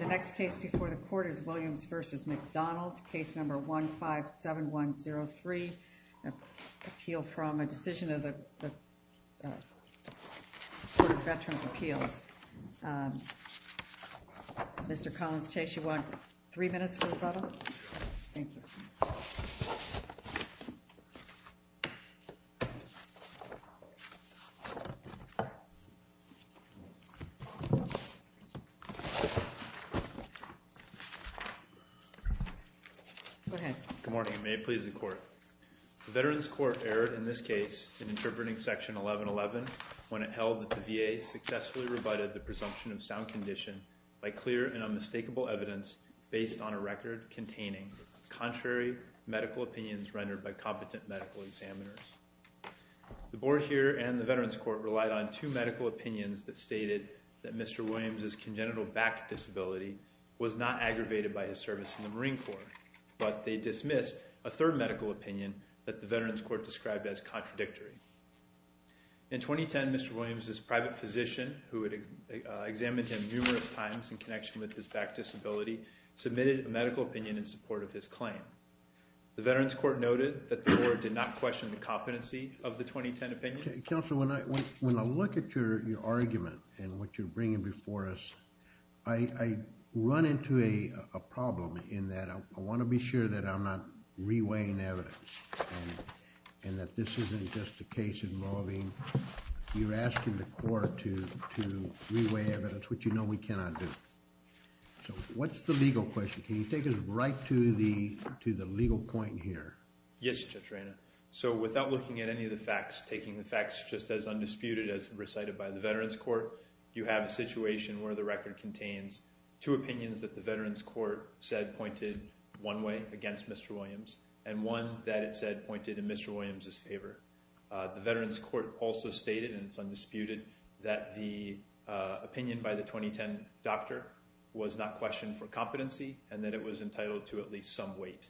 The next case before the Court is Williams v. McDonald, case number 157103, appeal from a decision of the Court of Veterans' Appeals. Mr. Collins-Chase, you want three minutes for the problem? Sure. Thank you. Go ahead. Good morning. May it please the Court. The Veterans Court erred in this case in interpreting Section 1111 when it held that the VA successfully rebutted the presumption of sound condition by clear and unmistakable evidence based on a record containing contrary medical opinions rendered by competent medical examiners. The Board here and the Veterans Court relied on two medical opinions that stated that Mr. Williams' congenital back disability was not aggravated by his service in the Marine Corps, but they dismissed a third medical opinion that the Veterans Court described as contradictory. In 2010, Mr. Williams' private physician, who had examined him numerous times in connection with his back disability, submitted a medical opinion in support of his claim. The Veterans Court noted that the Board did not question the competency of the 2010 opinion. Counsel, when I look at your argument and what you're bringing before us, I run into a problem in that I want to be sure that I'm not reweighing evidence and that this isn't just a case involving... you're asking the Court to reweigh evidence, which you know we cannot do. So, what's the legal question? Can you take us right to the legal point here? Yes, Judge Reina. So without looking at any of the facts, taking the facts just as undisputed as recited by the Veterans Court, you have a situation where the record contains two opinions that the Veterans Court said pointed one way against Mr. Williams and one that it said pointed in Mr. Williams' favor. The Veterans Court also stated, and it's undisputed, that the opinion by the 2010 doctor was not questioned for competency and that it was entitled to at least some weight.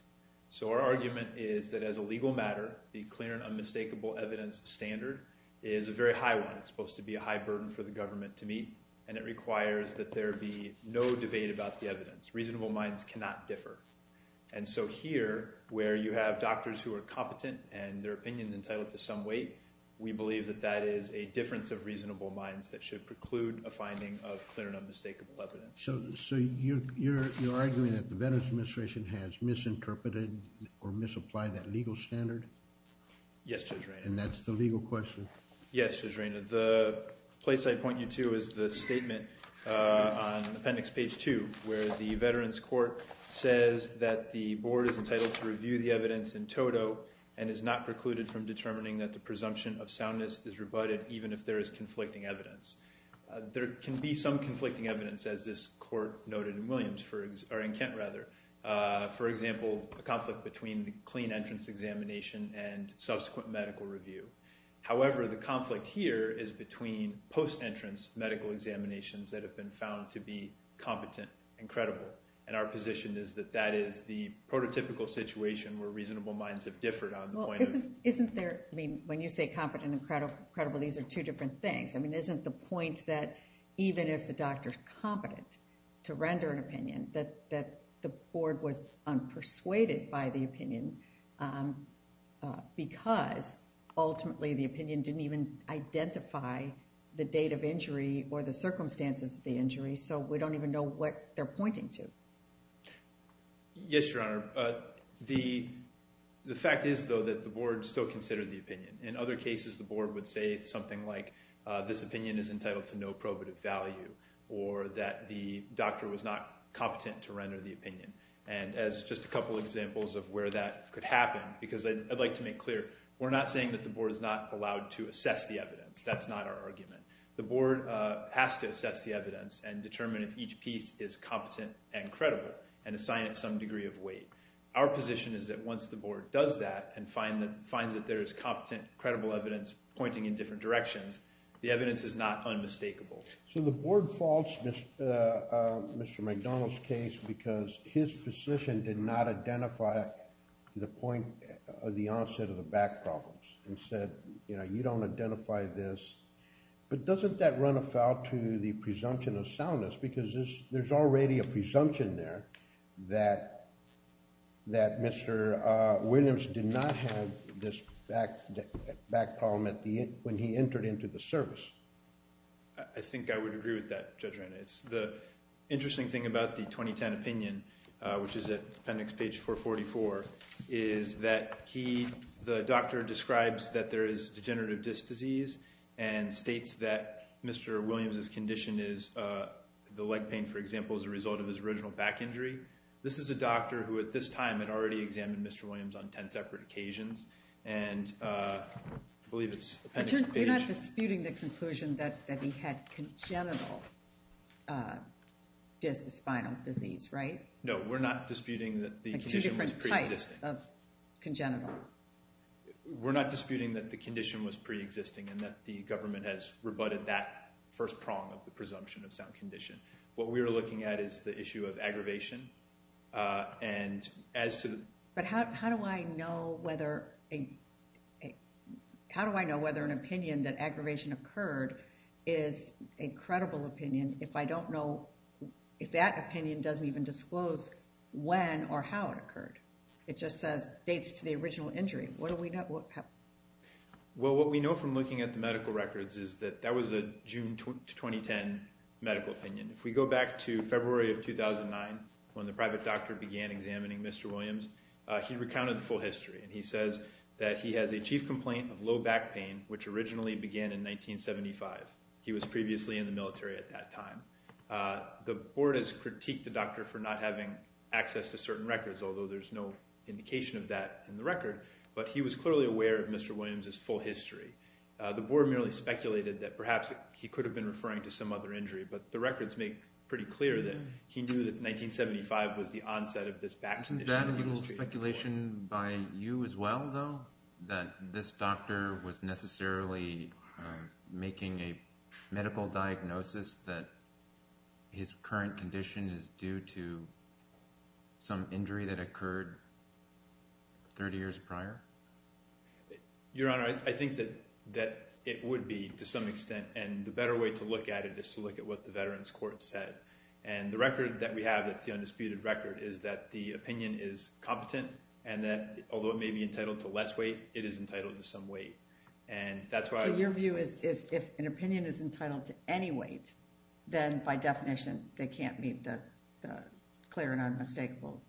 So our argument is that as a legal matter, the clear and unmistakable evidence standard is a very high one. It's supposed to be a high burden for the government to meet, and it requires that there be no debate about the evidence. Reasonable minds cannot differ. And so here, where you have doctors who are competent and their opinion is entitled to some weight, we believe that that is a difference of reasonable minds that should preclude a finding of clear and unmistakable evidence. So you're arguing that the Veterans Administration has misinterpreted or misapplied that legal standard? Yes, Judge Reina. And that's the legal question? Yes, Judge Reina. The place I point you to is the statement on Appendix Page 2 where the Veterans Court says that the board is entitled to review the evidence in toto and is not precluded from determining that the presumption of soundness is rebutted even if there is conflicting evidence. There can be some conflicting evidence, as this court noted in Kent, for example, a conflict between the clean entrance examination and subsequent medical review. However, the conflict here is between post-entrance medical examinations that have been found to be competent and credible. And our position is that that is the prototypical situation where reasonable minds have differed on the point of... Well, isn't there... I mean, when you say competent and credible, these are two different things. I mean, isn't the point that even if the doctor's competent to render an opinion, that the board was unpersuaded by the opinion because ultimately the opinion didn't even identify the date of injury or the circumstances of the injury, so we don't even know what they're pointing to. Yes, Your Honor. The fact is, though, that the board still considered the opinion. In other cases, the board would say something like, this opinion is entitled to no probative value or that the doctor was not competent to render the opinion. And as just a couple examples of where that could happen, because I'd like to make clear, we're not saying that the board is not allowed to assess the evidence. That's not our argument. The board has to assess the evidence and determine if each piece is competent and credible and assign it some degree of weight. Our position is that once the board does that and finds that there is competent, credible evidence pointing in different directions, the evidence is not unmistakable. So the board faults Mr. McDonald's case because his physician did not identify the point of the onset of the back problems and said, you know, you don't identify this. But doesn't that run afoul to the presumption of soundness because there's already a presumption there that Mr. Williams did not have this back problem when he entered into the service? I think I would agree with that, Judge Reynolds. The interesting thing about the 2010 opinion, which is at appendix page 444, is that the doctor describes that there is degenerative disc disease and states that Mr. Williams's condition is the leg pain, for example, as a result of his original back injury. This is a doctor who at this time had already examined Mr. Williams on 10 separate occasions. And I believe it's appendix page- Dis-spinal disease, right? No, we're not disputing that the condition was pre-existing. Like two different types of congenital. We're not disputing that the condition was pre-existing and that the government has rebutted that first prong of the presumption of sound condition. What we are looking at is the issue of aggravation and as to the- But how do I know whether an opinion that aggravation occurred is a credible opinion if I don't know- if that opinion doesn't even disclose when or how it occurred? It just says dates to the original injury. What do we know- Well, what we know from looking at the medical records is that that was a June 2010 medical opinion. If we go back to February of 2009, when the private doctor began examining Mr. Williams, he recounted the full history. He says that he has a chief complaint of low back pain, which originally began in 1975. He was previously in the military at that time. The board has critiqued the doctor for not having access to certain records, although there's no indication of that in the record, but he was clearly aware of Mr. Williams' full history. The board merely speculated that perhaps he could have been referring to some other injury, but the records make pretty clear that he knew that 1975 was the onset of this back condition. Isn't that a little speculation by you as well, though? That this doctor was necessarily making a medical diagnosis that his current condition is due to some injury that occurred 30 years prior? Your Honor, I think that it would be to some extent, and the better way to look at it is to look at what the Veterans Court said. And the record that we have that's the undisputed record is that the opinion is competent and that although it may be entitled to less weight, it is entitled to some weight. So your view is if an opinion is entitled to any weight, then by definition they can't meet the clear and unmistakable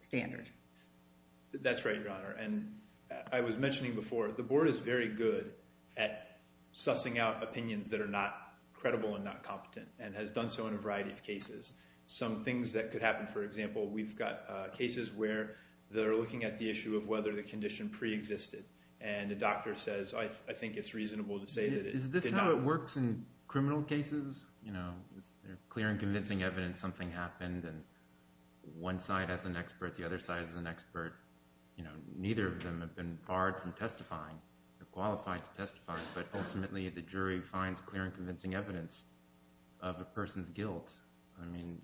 standard? That's right, Your Honor. And I was mentioning before the board is very good at sussing out opinions that are not credible and not competent and has done so in a variety of cases. Some things that could happen, for example, we've got cases where they're looking at the issue of whether the condition preexisted. And the doctor says, I think it's reasonable to say that it did not. Is this how it works in criminal cases? Is there clear and convincing evidence something happened and one side has an expert, the other side has an expert? Neither of them have been barred from testifying or qualified to testify, I mean,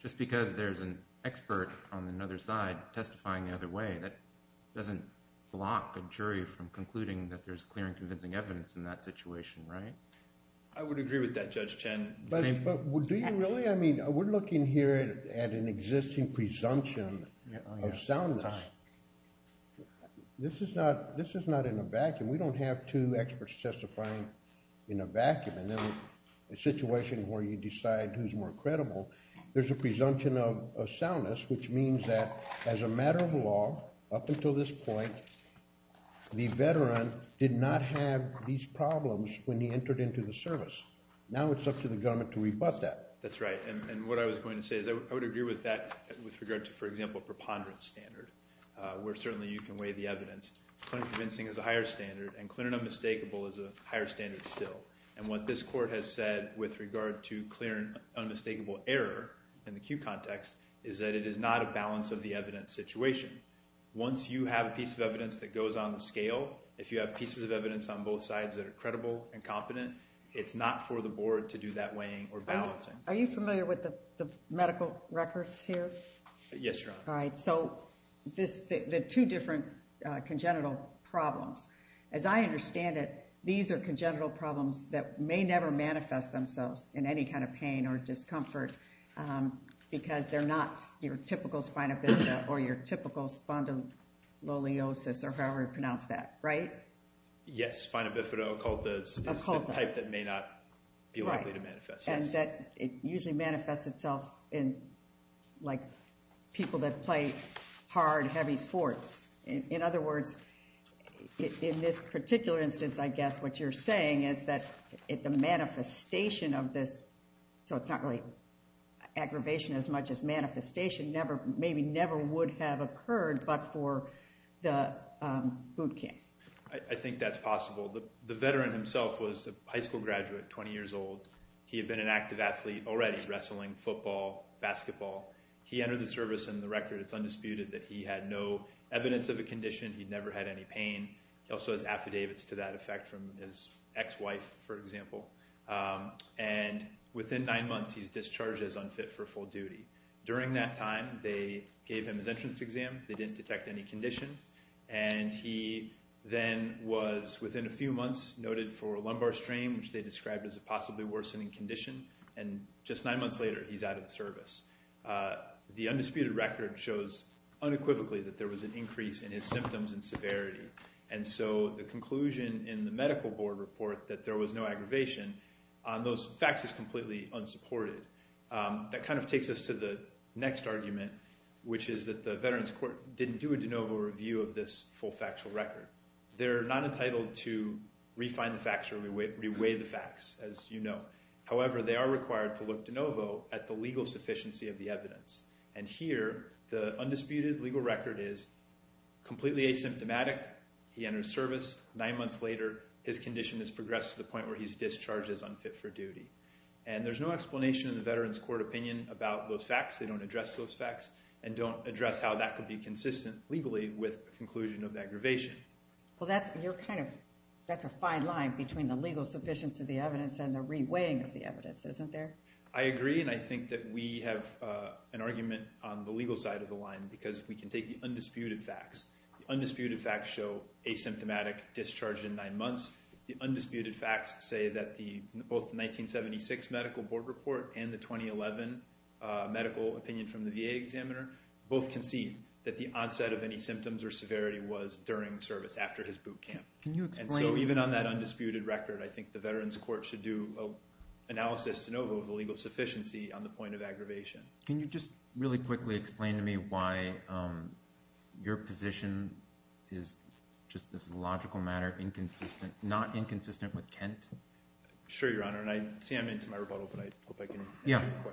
just because there's an expert on another side testifying the other way, that doesn't block a jury from concluding that there's clear and convincing evidence in that situation, right? I would agree with that, Judge Chen. But do you really? I mean, we're looking here at an existing presumption of soundness. This is not in a vacuum. We don't have two experts testifying in a vacuum and then a situation where you decide who's more credible. There's a presumption of soundness, which means that as a matter of law, up until this point, the veteran did not have these problems when he entered into the service. Now it's up to the government to rebut that. That's right. And what I was going to say is I would agree with that with regard to, for example, a preponderance standard where certainly you can weigh the evidence. Clear and convincing is a higher standard and clear and unmistakable is a higher standard still. And what this court has said with regard to clear and unmistakable error in the cue context is that it is not a balance of the evidence situation. Once you have a piece of evidence that goes on the scale, if you have pieces of evidence on both sides that are credible and competent, it's not for the board to do that weighing or balancing. Are you familiar with the medical records here? Yes, Your Honor. All right. So the two different congenital problems. As I understand it, these are congenital problems that may never manifest themselves in any kind of pain or discomfort because they're not your typical spina bifida or your typical spondyloliosis or however you pronounce that, right? Yes. Spina bifida occulta is the type that may not be likely to manifest. And that it usually manifests itself in, like, people that play hard, heavy sports. In other words, in this particular instance, I guess what you're saying is that the manifestation of this, so it's not really aggravation as much as manifestation, maybe never would have occurred but for the boot camp. I think that's possible. The veteran himself was a high school graduate, 20 years old. He had been an active athlete already, wrestling, football, basketball. He entered the service and the record, it's undisputed, that he had no evidence of a condition. He'd never had any pain. He also has affidavits to that effect from his ex-wife, for example. And within nine months, he's discharged as unfit for full duty. During that time, they gave him his entrance exam. They didn't detect any condition. And he then was, within a few months, noted for a lumbar strain, which they described as a possibly worsening condition. And just nine months later, he's out of the service. The undisputed record shows unequivocally that there was an increase in his symptoms and severity. And so the conclusion in the medical board report that there was no aggravation, on those facts is completely unsupported. That kind of takes us to the next argument, which is that the Veterans Court didn't do a de novo review of this full factual record. They're not entitled to refine the facts or reweigh the facts, as you know. However, they are required to look de novo at the legal sufficiency of the evidence. And here, the undisputed legal record is completely asymptomatic. He enters service. Nine months later, his condition has progressed to the point where he's discharged as unfit for duty. And there's no explanation in the Veterans Court opinion about those facts. They don't address those facts, and don't address how that could be consistent legally with a conclusion of aggravation. Well, that's a fine line between the legal sufficiency of the evidence and the reweighing of the evidence, isn't there? I agree, and I think that we have an argument on the legal side of the line, because we can take the undisputed facts. The undisputed facts show asymptomatic discharge in nine months. The undisputed facts say that both the 1976 medical board report and the 2011 medical opinion from the VA examiner both concede that the onset of any symptoms or severity was during service, after his boot camp. And so even on that undisputed record, I think the Veterans Court should do an analysis de novo of the legal sufficiency on the point of aggravation. Can you just really quickly explain to me why your position is just this logical matter, not inconsistent with Kent? Sure, Your Honor, and I see I'm into my rebuttal, but I hope I can answer your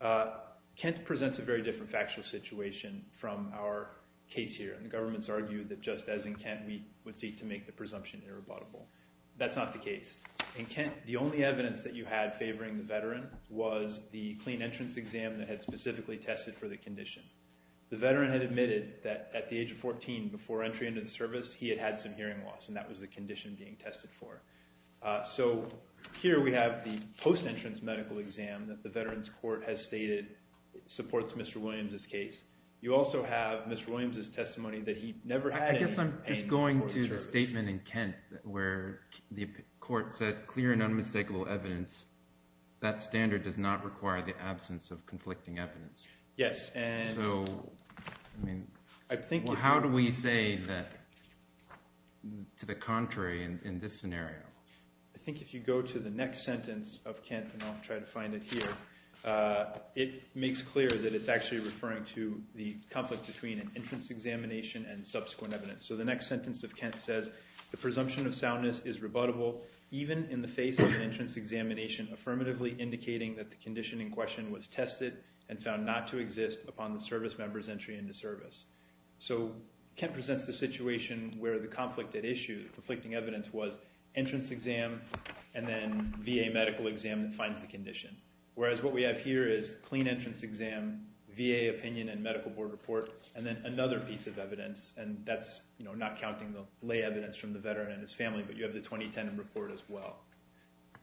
question. Kent presents a very different factual situation from our case here, and the government's argued that just as in Kent, we would seek to make the presumption irrebuttable. That's not the case. In Kent, the only evidence that you had favoring the veteran was the clean entrance exam that had specifically tested for the condition. The veteran had admitted that at the age of 14, before entry into the service, he had had some hearing loss, and that was the condition being tested for. So here we have the post-entrance medical exam that the Veterans Court has stated supports Mr. Williams' case. You also have Mr. Williams' testimony that he never had any pain before the service. I guess I'm just going to the statement in Kent where the court said, clear and unmistakable evidence, that standard does not require the absence of conflicting evidence. Yes, and I think you're correct. To the contrary in this scenario. I think if you go to the next sentence of Kent, and I'll try to find it here, it makes clear that it's actually referring to the conflict between an entrance examination and subsequent evidence. So the next sentence of Kent says, the presumption of soundness is rebuttable even in the face of an entrance examination, affirmatively indicating that the condition in question was tested and found not to exist upon the service member's entry into service. So Kent presents the situation where the conflict at issue, conflicting evidence, was entrance exam and then VA medical exam that finds the condition. Whereas what we have here is clean entrance exam, VA opinion and medical board report, and then another piece of evidence, and that's not counting the lay evidence from the Veteran and his family, but you have the 2010 report as well.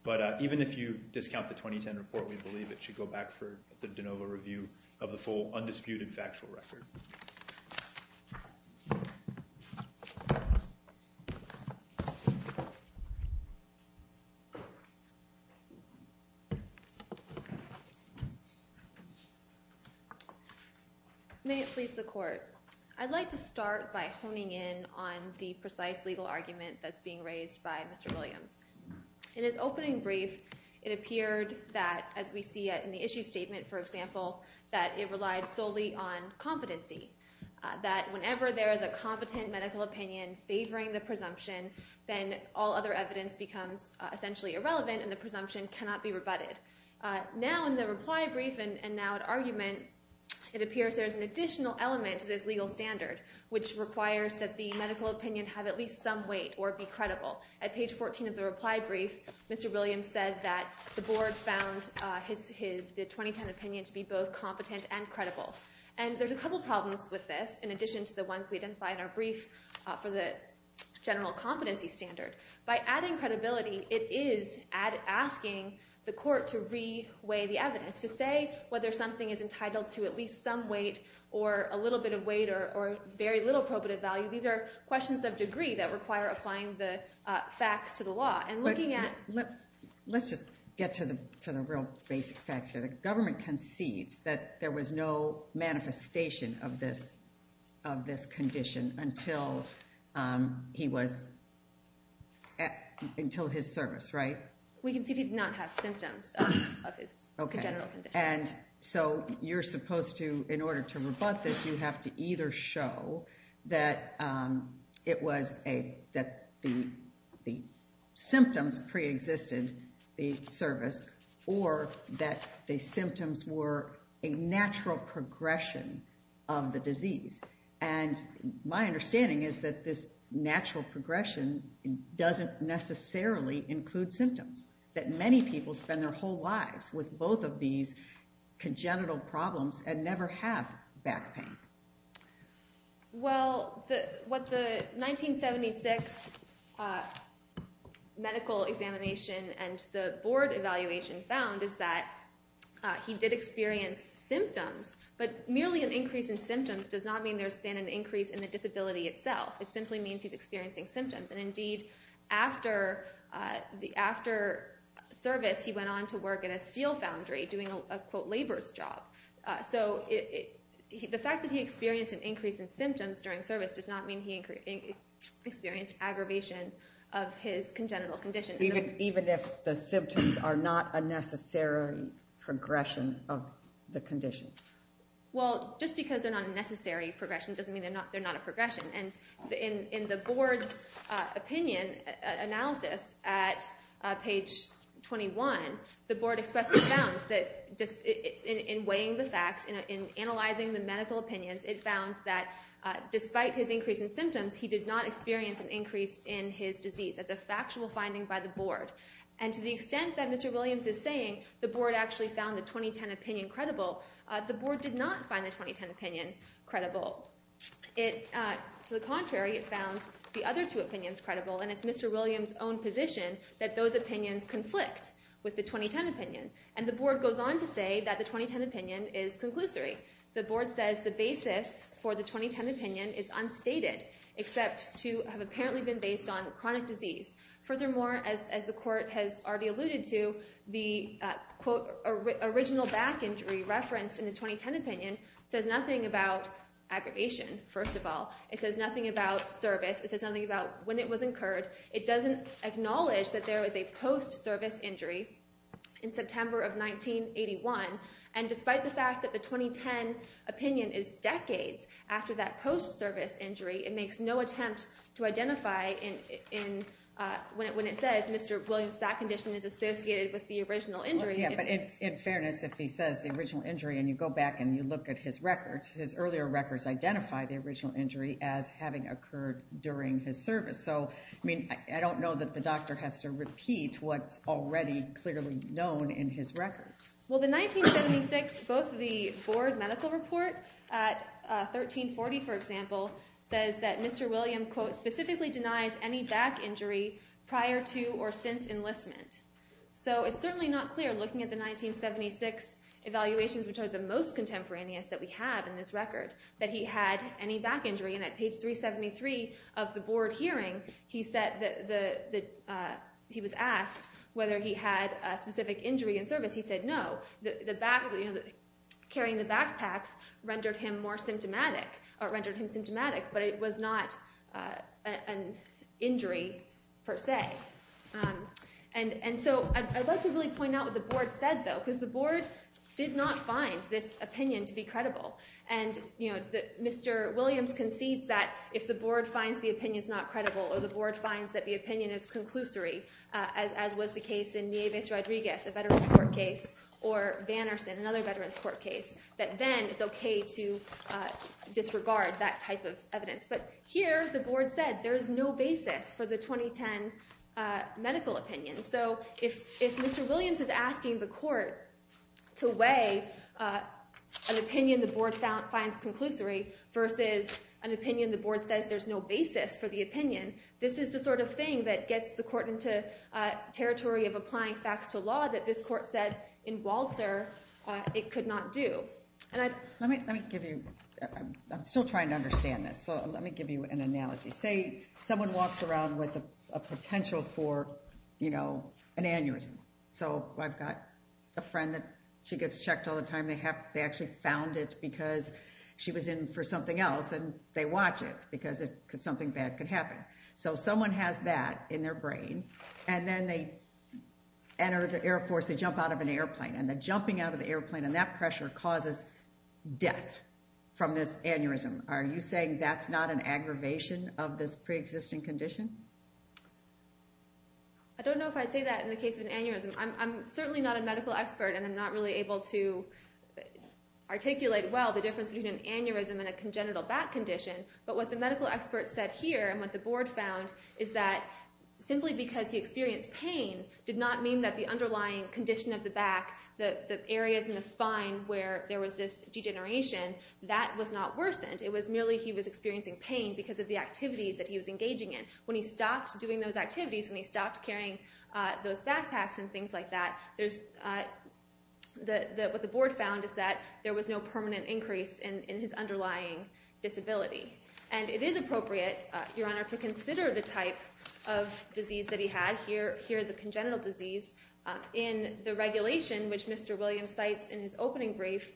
But even if you discount the 2010 report, we believe it should go back for the de novo review of the full undisputed factual record. May it please the court. I'd like to start by honing in on the precise legal argument that's being raised by Mr. Williams. In his opening brief, it appeared that, as we see in the issue statement, for example, that it relied solely on competency, that whenever there is a competent medical opinion favoring the presumption, then all other evidence becomes essentially irrelevant and the presumption cannot be rebutted. Now in the reply brief and now at argument, it appears there is an additional element to this legal standard, which requires that the medical opinion have at least some weight or be credible. At page 14 of the reply brief, Mr. Williams said that the board found the 2010 opinion to be both competent and credible. And there's a couple problems with this, in addition to the ones we identified in our brief for the general competency standard. By adding credibility, it is asking the court to re-weigh the evidence, to say whether something is entitled to at least some weight or a little bit of weight or very little probative value. These are questions of degree that require applying the facts to the law. Let's just get to the real basic facts here. The government concedes that there was no manifestation of this condition until his service, right? We concede he did not have symptoms of his congenital condition. So you're supposed to, in order to rebut this, you have to either show that the symptoms preexisted the service or that the symptoms were a natural progression of the disease. And my understanding is that this natural progression doesn't necessarily include symptoms, that many people spend their whole lives with both of these congenital problems and never have back pain. Well, what the 1976 medical examination and the board evaluation found is that he did experience symptoms, but merely an increase in symptoms does not mean there's been an increase in the disability itself. It simply means he's experiencing symptoms. And indeed, after service, he went on to work at a steel foundry doing a, quote, labor's job. So the fact that he experienced an increase in symptoms during service does not mean he experienced aggravation of his congenital condition. Even if the symptoms are not a necessary progression of the condition? Well, just because they're not a necessary progression doesn't mean they're not a progression. And in the board's opinion analysis at page 21, the board expressly found that in weighing the facts, in analyzing the medical opinions, it found that despite his increase in symptoms, he did not experience an increase in his disease. That's a factual finding by the board. And to the extent that Mr. Williams is saying the board actually found the 2010 opinion credible, the board did not find the 2010 opinion credible. To the contrary, it found the other two opinions credible, and it's Mr. Williams' own position that those opinions conflict with the 2010 opinion. And the board goes on to say that the 2010 opinion is conclusory. The board says the basis for the 2010 opinion is unstated, except to have apparently been based on chronic disease. Furthermore, as the court has already alluded to, the, quote, original back injury referenced in the 2010 opinion says nothing about aggravation, first of all. It says nothing about service. It says nothing about when it was incurred. It doesn't acknowledge that there was a post-service injury in September of 1981. And despite the fact that the 2010 opinion is decades after that post-service injury, it makes no attempt to identify when it says Mr. Williams' back condition is associated with the original injury. Well, yeah, but in fairness, if he says the original injury and you go back and you look at his records, his earlier records identify the original injury as having occurred during his service. So, I mean, I don't know that the doctor has to repeat what's already clearly known in his records. Well, the 1976 board medical report at 1340, for example, says that Mr. Williams, quote, specifically denies any back injury prior to or since enlistment. So it's certainly not clear looking at the 1976 evaluations, which are the most contemporaneous that we have in this record, that he had any back injury. And at page 373 of the board hearing, he was asked whether he had a specific injury in service. He said no. Carrying the backpacks rendered him symptomatic, but it was not an injury per se. And so I'd like to really point out what the board said, though, because the board did not find this opinion to be credible. And, you know, Mr. Williams concedes that if the board finds the opinion is not credible or the board finds that the opinion is conclusory, as was the case in Nieves Rodriguez, a veterans court case, or Vannerson, another veterans court case, that then it's OK to disregard that type of evidence. But here the board said there is no basis for the 2010 medical opinion. So if Mr. Williams is asking the court to weigh an opinion the board finds conclusory versus an opinion the board says there's no basis for the opinion, this is the sort of thing that gets the court into territory of applying facts to law that this court said in Walter it could not do. Let me give you, I'm still trying to understand this, so let me give you an analogy. Say someone walks around with a potential for, you know, an aneurysm. So I've got a friend that she gets checked all the time. They actually found it because she was in for something else, and they watch it because something bad could happen. So someone has that in their brain, and then they enter the Air Force, they jump out of an airplane, and the jumping out of the airplane and that pressure causes death from this aneurysm. Are you saying that's not an aggravation of this preexisting condition? I don't know if I'd say that in the case of an aneurysm. I'm certainly not a medical expert, and I'm not really able to articulate well the difference between an aneurysm and a congenital back condition, but what the medical expert said here and what the board found is that simply because he experienced pain did not mean that the underlying condition of the back, the areas in the spine where there was this degeneration, that was not worsened. It was merely he was experiencing pain because of the activities that he was engaging in. When he stopped doing those activities, when he stopped carrying those backpacks and things like that, what the board found is that there was no permanent increase in his underlying disability. And it is appropriate, Your Honor, to consider the type of disease that he had. Here the congenital disease. In the regulation, which Mr. Williams cites in his opening brief,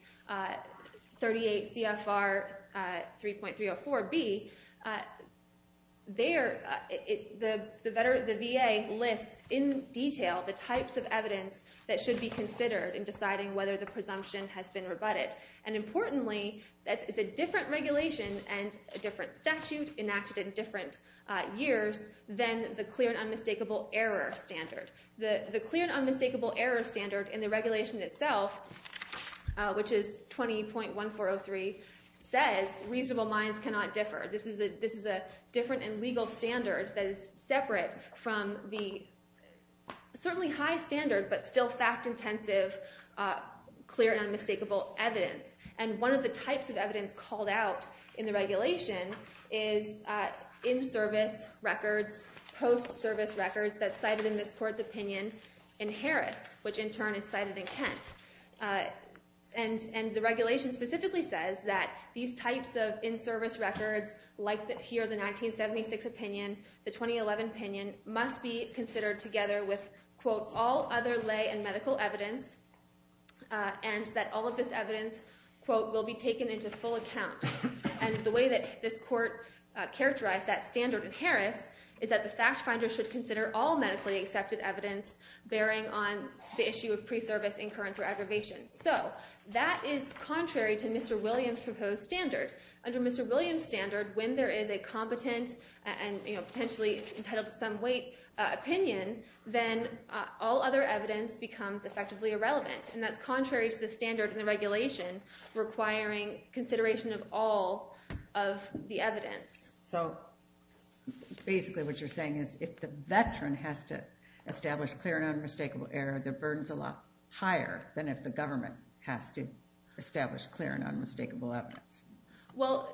38 CFR 3.304B, there the VA lists in detail the types of evidence that should be considered in deciding whether the presumption has been rebutted. And importantly, it's a different regulation and a different statute enacted in different years than the clear and unmistakable error standard. The clear and unmistakable error standard in the regulation itself, which is 20.1403, says reasonable minds cannot differ. This is a different and legal standard that is separate from the certainly high standard but still fact-intensive clear and unmistakable evidence. And one of the types of evidence called out in the regulation is in-service records, post-service records that's cited in this court's opinion in Harris, which in turn is cited in Kent. And the regulation specifically says that these types of in-service records, like here the 1976 opinion, the 2011 opinion, must be considered together with quote, all other lay and medical evidence, and that all of this evidence, quote, will be taken into full account. And the way that this court characterized that standard in Harris is that the fact finder should consider all medically accepted evidence bearing on the issue of pre-service incurrence or aggravation. So that is contrary to Mr. Williams' proposed standard. Under Mr. Williams' standard, when there is a competent and potentially entitled to some weight opinion, then all other evidence becomes effectively irrelevant, and that's contrary to the standard in the regulation requiring consideration of all of the evidence. So basically what you're saying is if the veteran has to establish clear and unmistakable error, the burden is a lot higher than if the government has to establish clear and unmistakable evidence. Well,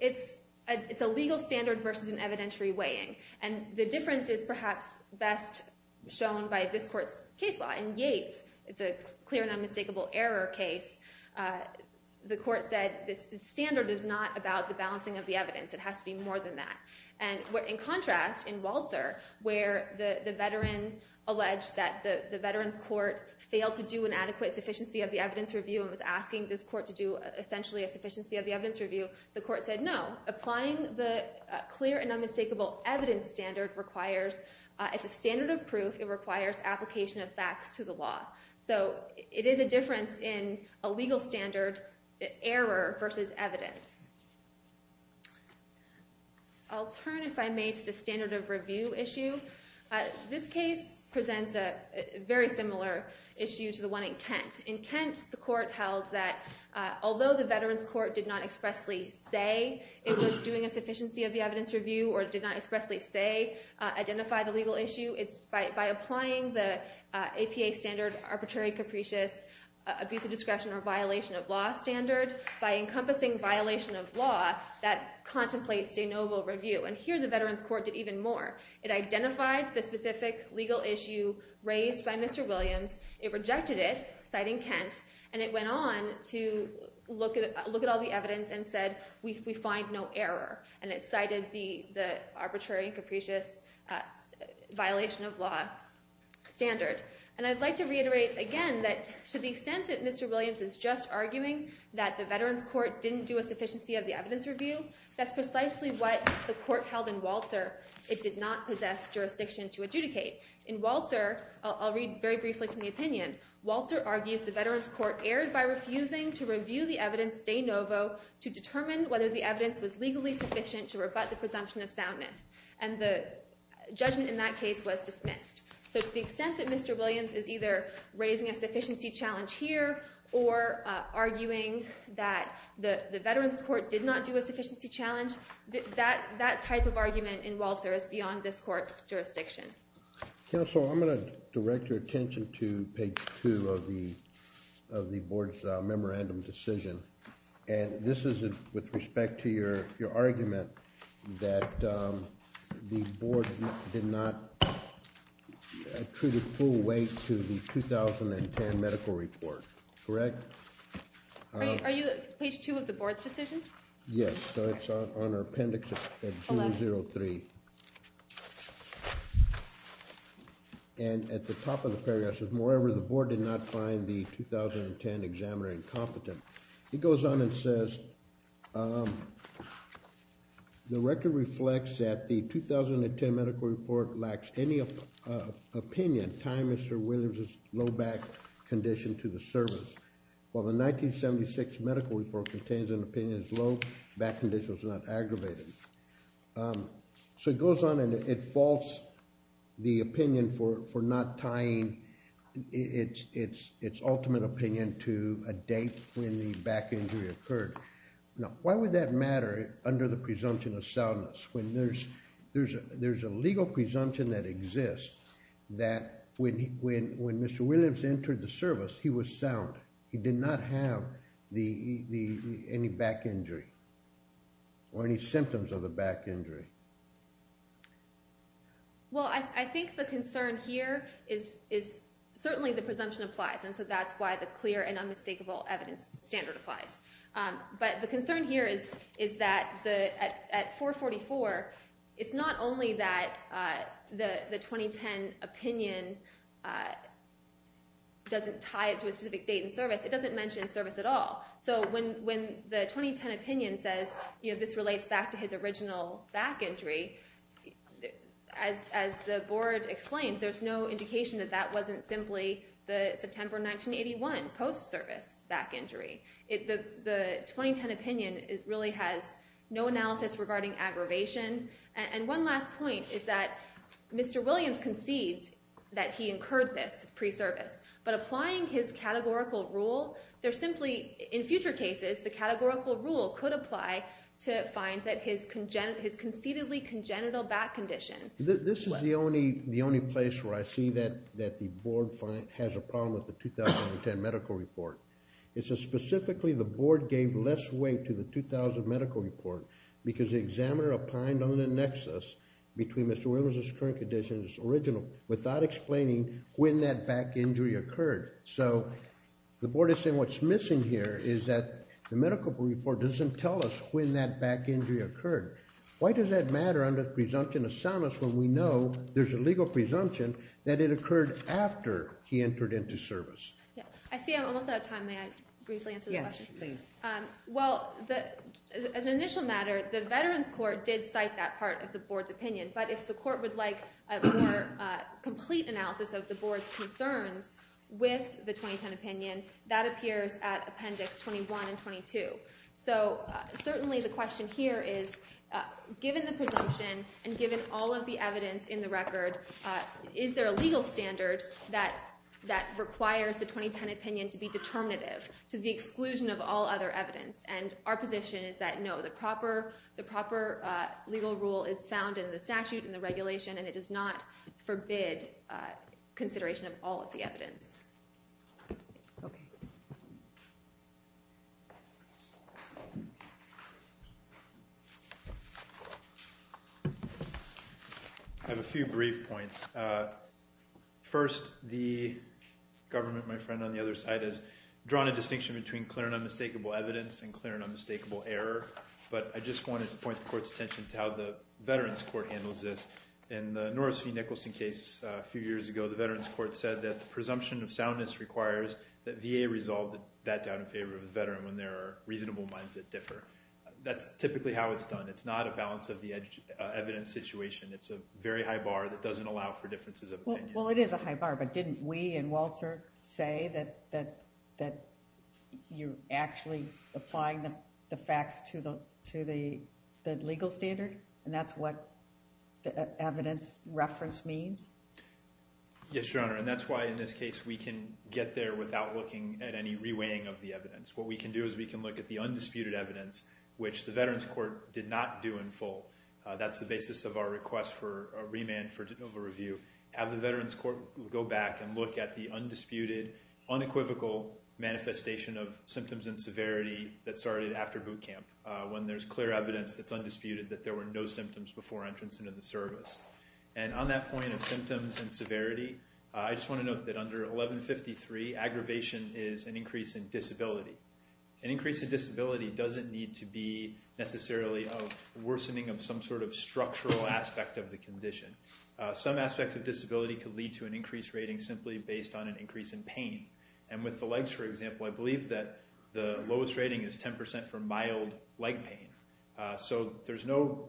it's a legal standard versus an evidentiary weighing. And the difference is perhaps best shown by this court's case law. In Yates, it's a clear and unmistakable error case. The court said the standard is not about the balancing of the evidence. It has to be more than that. And in contrast, in Walter, where the veteran alleged that the veteran's court failed to do an adequate sufficiency of the evidence review and was asking this court to do essentially a sufficiency of the evidence review, the court said no. Applying the clear and unmistakable evidence standard requires, as a standard of proof, it requires application of facts to the law. So it is a difference in a legal standard, error versus evidence. I'll turn, if I may, to the standard of review issue. This case presents a very similar issue to the one in Kent. In Kent, the court held that although the veteran's court did not expressly say it was doing a sufficiency of the evidence review or did not expressly say identify the legal issue, it's by applying the APA standard arbitrary capricious abusive discretion or violation of law standard, by encompassing violation of law, that contemplates de novo review. And here the veteran's court did even more. It identified the specific legal issue raised by Mr. Williams. It rejected it, citing Kent. And it went on to look at all the evidence and said we find no error. And it cited the arbitrary and capricious violation of law standard. And I'd like to reiterate again that to the extent that Mr. Williams is just arguing that the veteran's court didn't do a sufficiency of the evidence review, that's precisely what the court held in Walter. It did not possess jurisdiction to adjudicate. In Walter, I'll read very briefly from the opinion. Walter argues the veteran's court erred by refusing to review the evidence de novo to determine whether the evidence was legally sufficient to rebut the presumption of soundness. And the judgment in that case was dismissed. So to the extent that Mr. Williams is either raising a sufficiency challenge here or arguing that the veteran's court did not do a sufficiency challenge, that type of argument in Walter is beyond this court's jurisdiction. Counsel, I'm going to direct your attention to page 2 of the board's memorandum decision. And this is with respect to your argument that the board did not attribute full weight to the 2010 medical report. Correct? Are you at page 2 of the board's decision? Yes. So it's on our appendix at 003. And at the top of the paragraph it says, moreover the board did not find the 2010 examiner incompetent. It goes on and says, the record reflects that the 2010 medical report lacks any opinion tying Mr. Williams' low back condition to the service. While the 1976 medical report contains an opinion as low, back condition was not aggravated. So it goes on and it faults the opinion for not tying its ultimate opinion to a date when the back injury occurred. Now, why would that matter under the presumption of soundness when there's a legal presumption that exists that when Mr. Williams entered the service he was sound, he did not have any back injury or any symptoms of a back injury? Well, I think the concern here is certainly the presumption applies, and so that's why the clear and unmistakable evidence standard applies. But the concern here is that at 444, it's not only that the 2010 opinion doesn't tie it to a specific date in service, it doesn't mention service at all. So when the 2010 opinion says this relates back to his original back injury, as the board explained, there's no indication that that wasn't simply the September 1981 post-service back injury. The 2010 opinion really has no analysis regarding aggravation. And one last point is that Mr. Williams concedes that he incurred this pre-service, but applying his categorical rule, there's simply in future cases the categorical rule could apply to find that his concededly congenital back condition. This is the only place where I see that the board has a problem with the 2010 medical report. It says specifically the board gave less weight to the 2000 medical report because the examiner applied on the nexus between Mr. Williams' current condition and his original without explaining when that back injury occurred. So the board is saying what's missing here is that the medical report doesn't tell us when that back injury occurred. Why does that matter under presumption of soundness when we know there's a legal presumption that it occurred after he entered into service? I see I'm almost out of time. May I briefly answer the question? Yes, please. Well, as an initial matter, the Veterans Court did cite that part of the board's opinion, but if the court would like a more complete analysis of the board's concerns with the 2010 opinion, that appears at Appendix 21 and 22. So certainly the question here is given the presumption and given all of the evidence in the record, is there a legal standard that requires the 2010 opinion to be determinative to the exclusion of all other evidence? And our position is that no, the proper legal rule is found in the statute and the regulation, and it does not forbid consideration of all of the evidence. Okay. I have a few brief points. First, the government, my friend on the other side, has drawn a distinction between clear and unmistakable evidence and clear and unmistakable error, but I just wanted to point the court's attention to how the Veterans Court handles this. In the Norris v. Nicholson case a few years ago, the Veterans Court said that the presumption of soundness requires that VA resolve that doubt in favor of the veteran when there are reasonable minds that differ. That's typically how it's done. It's not a balance of the evidence situation. It's a very high bar that doesn't allow for differences of opinion. Well, it is a high bar, but didn't we in Walter say that you're actually applying the facts to the legal standard? And that's what the evidence reference means? Yes, Your Honor, and that's why in this case we can get there without looking at any reweighing of the evidence. What we can do is we can look at the undisputed evidence, which the Veterans Court did not do in full. That's the basis of our request for a remand for overreview. Have the Veterans Court go back and look at the undisputed, unequivocal manifestation of symptoms and severity that started after boot camp when there's clear evidence that's undisputed, that there were no symptoms before entrance into the service. And on that point of symptoms and severity, I just want to note that under 1153, aggravation is an increase in disability. An increase in disability doesn't need to be necessarily a worsening of some sort of structural aspect of the condition. Some aspect of disability could lead to an increased rating simply based on an increase in pain. And with the legs, for example, I believe that the lowest rating is 10% for mild leg pain. So there's no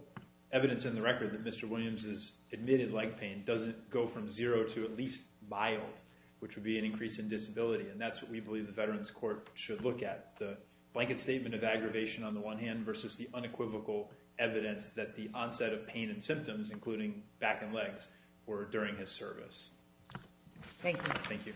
evidence in the record that Mr. Williams' admitted leg pain doesn't go from zero to at least mild, which would be an increase in disability. And that's what we believe the Veterans Court should look at, the blanket statement of aggravation on the one hand versus the unequivocal evidence that the onset of pain and symptoms, including back and legs, were during his service. Thank you. Thank you.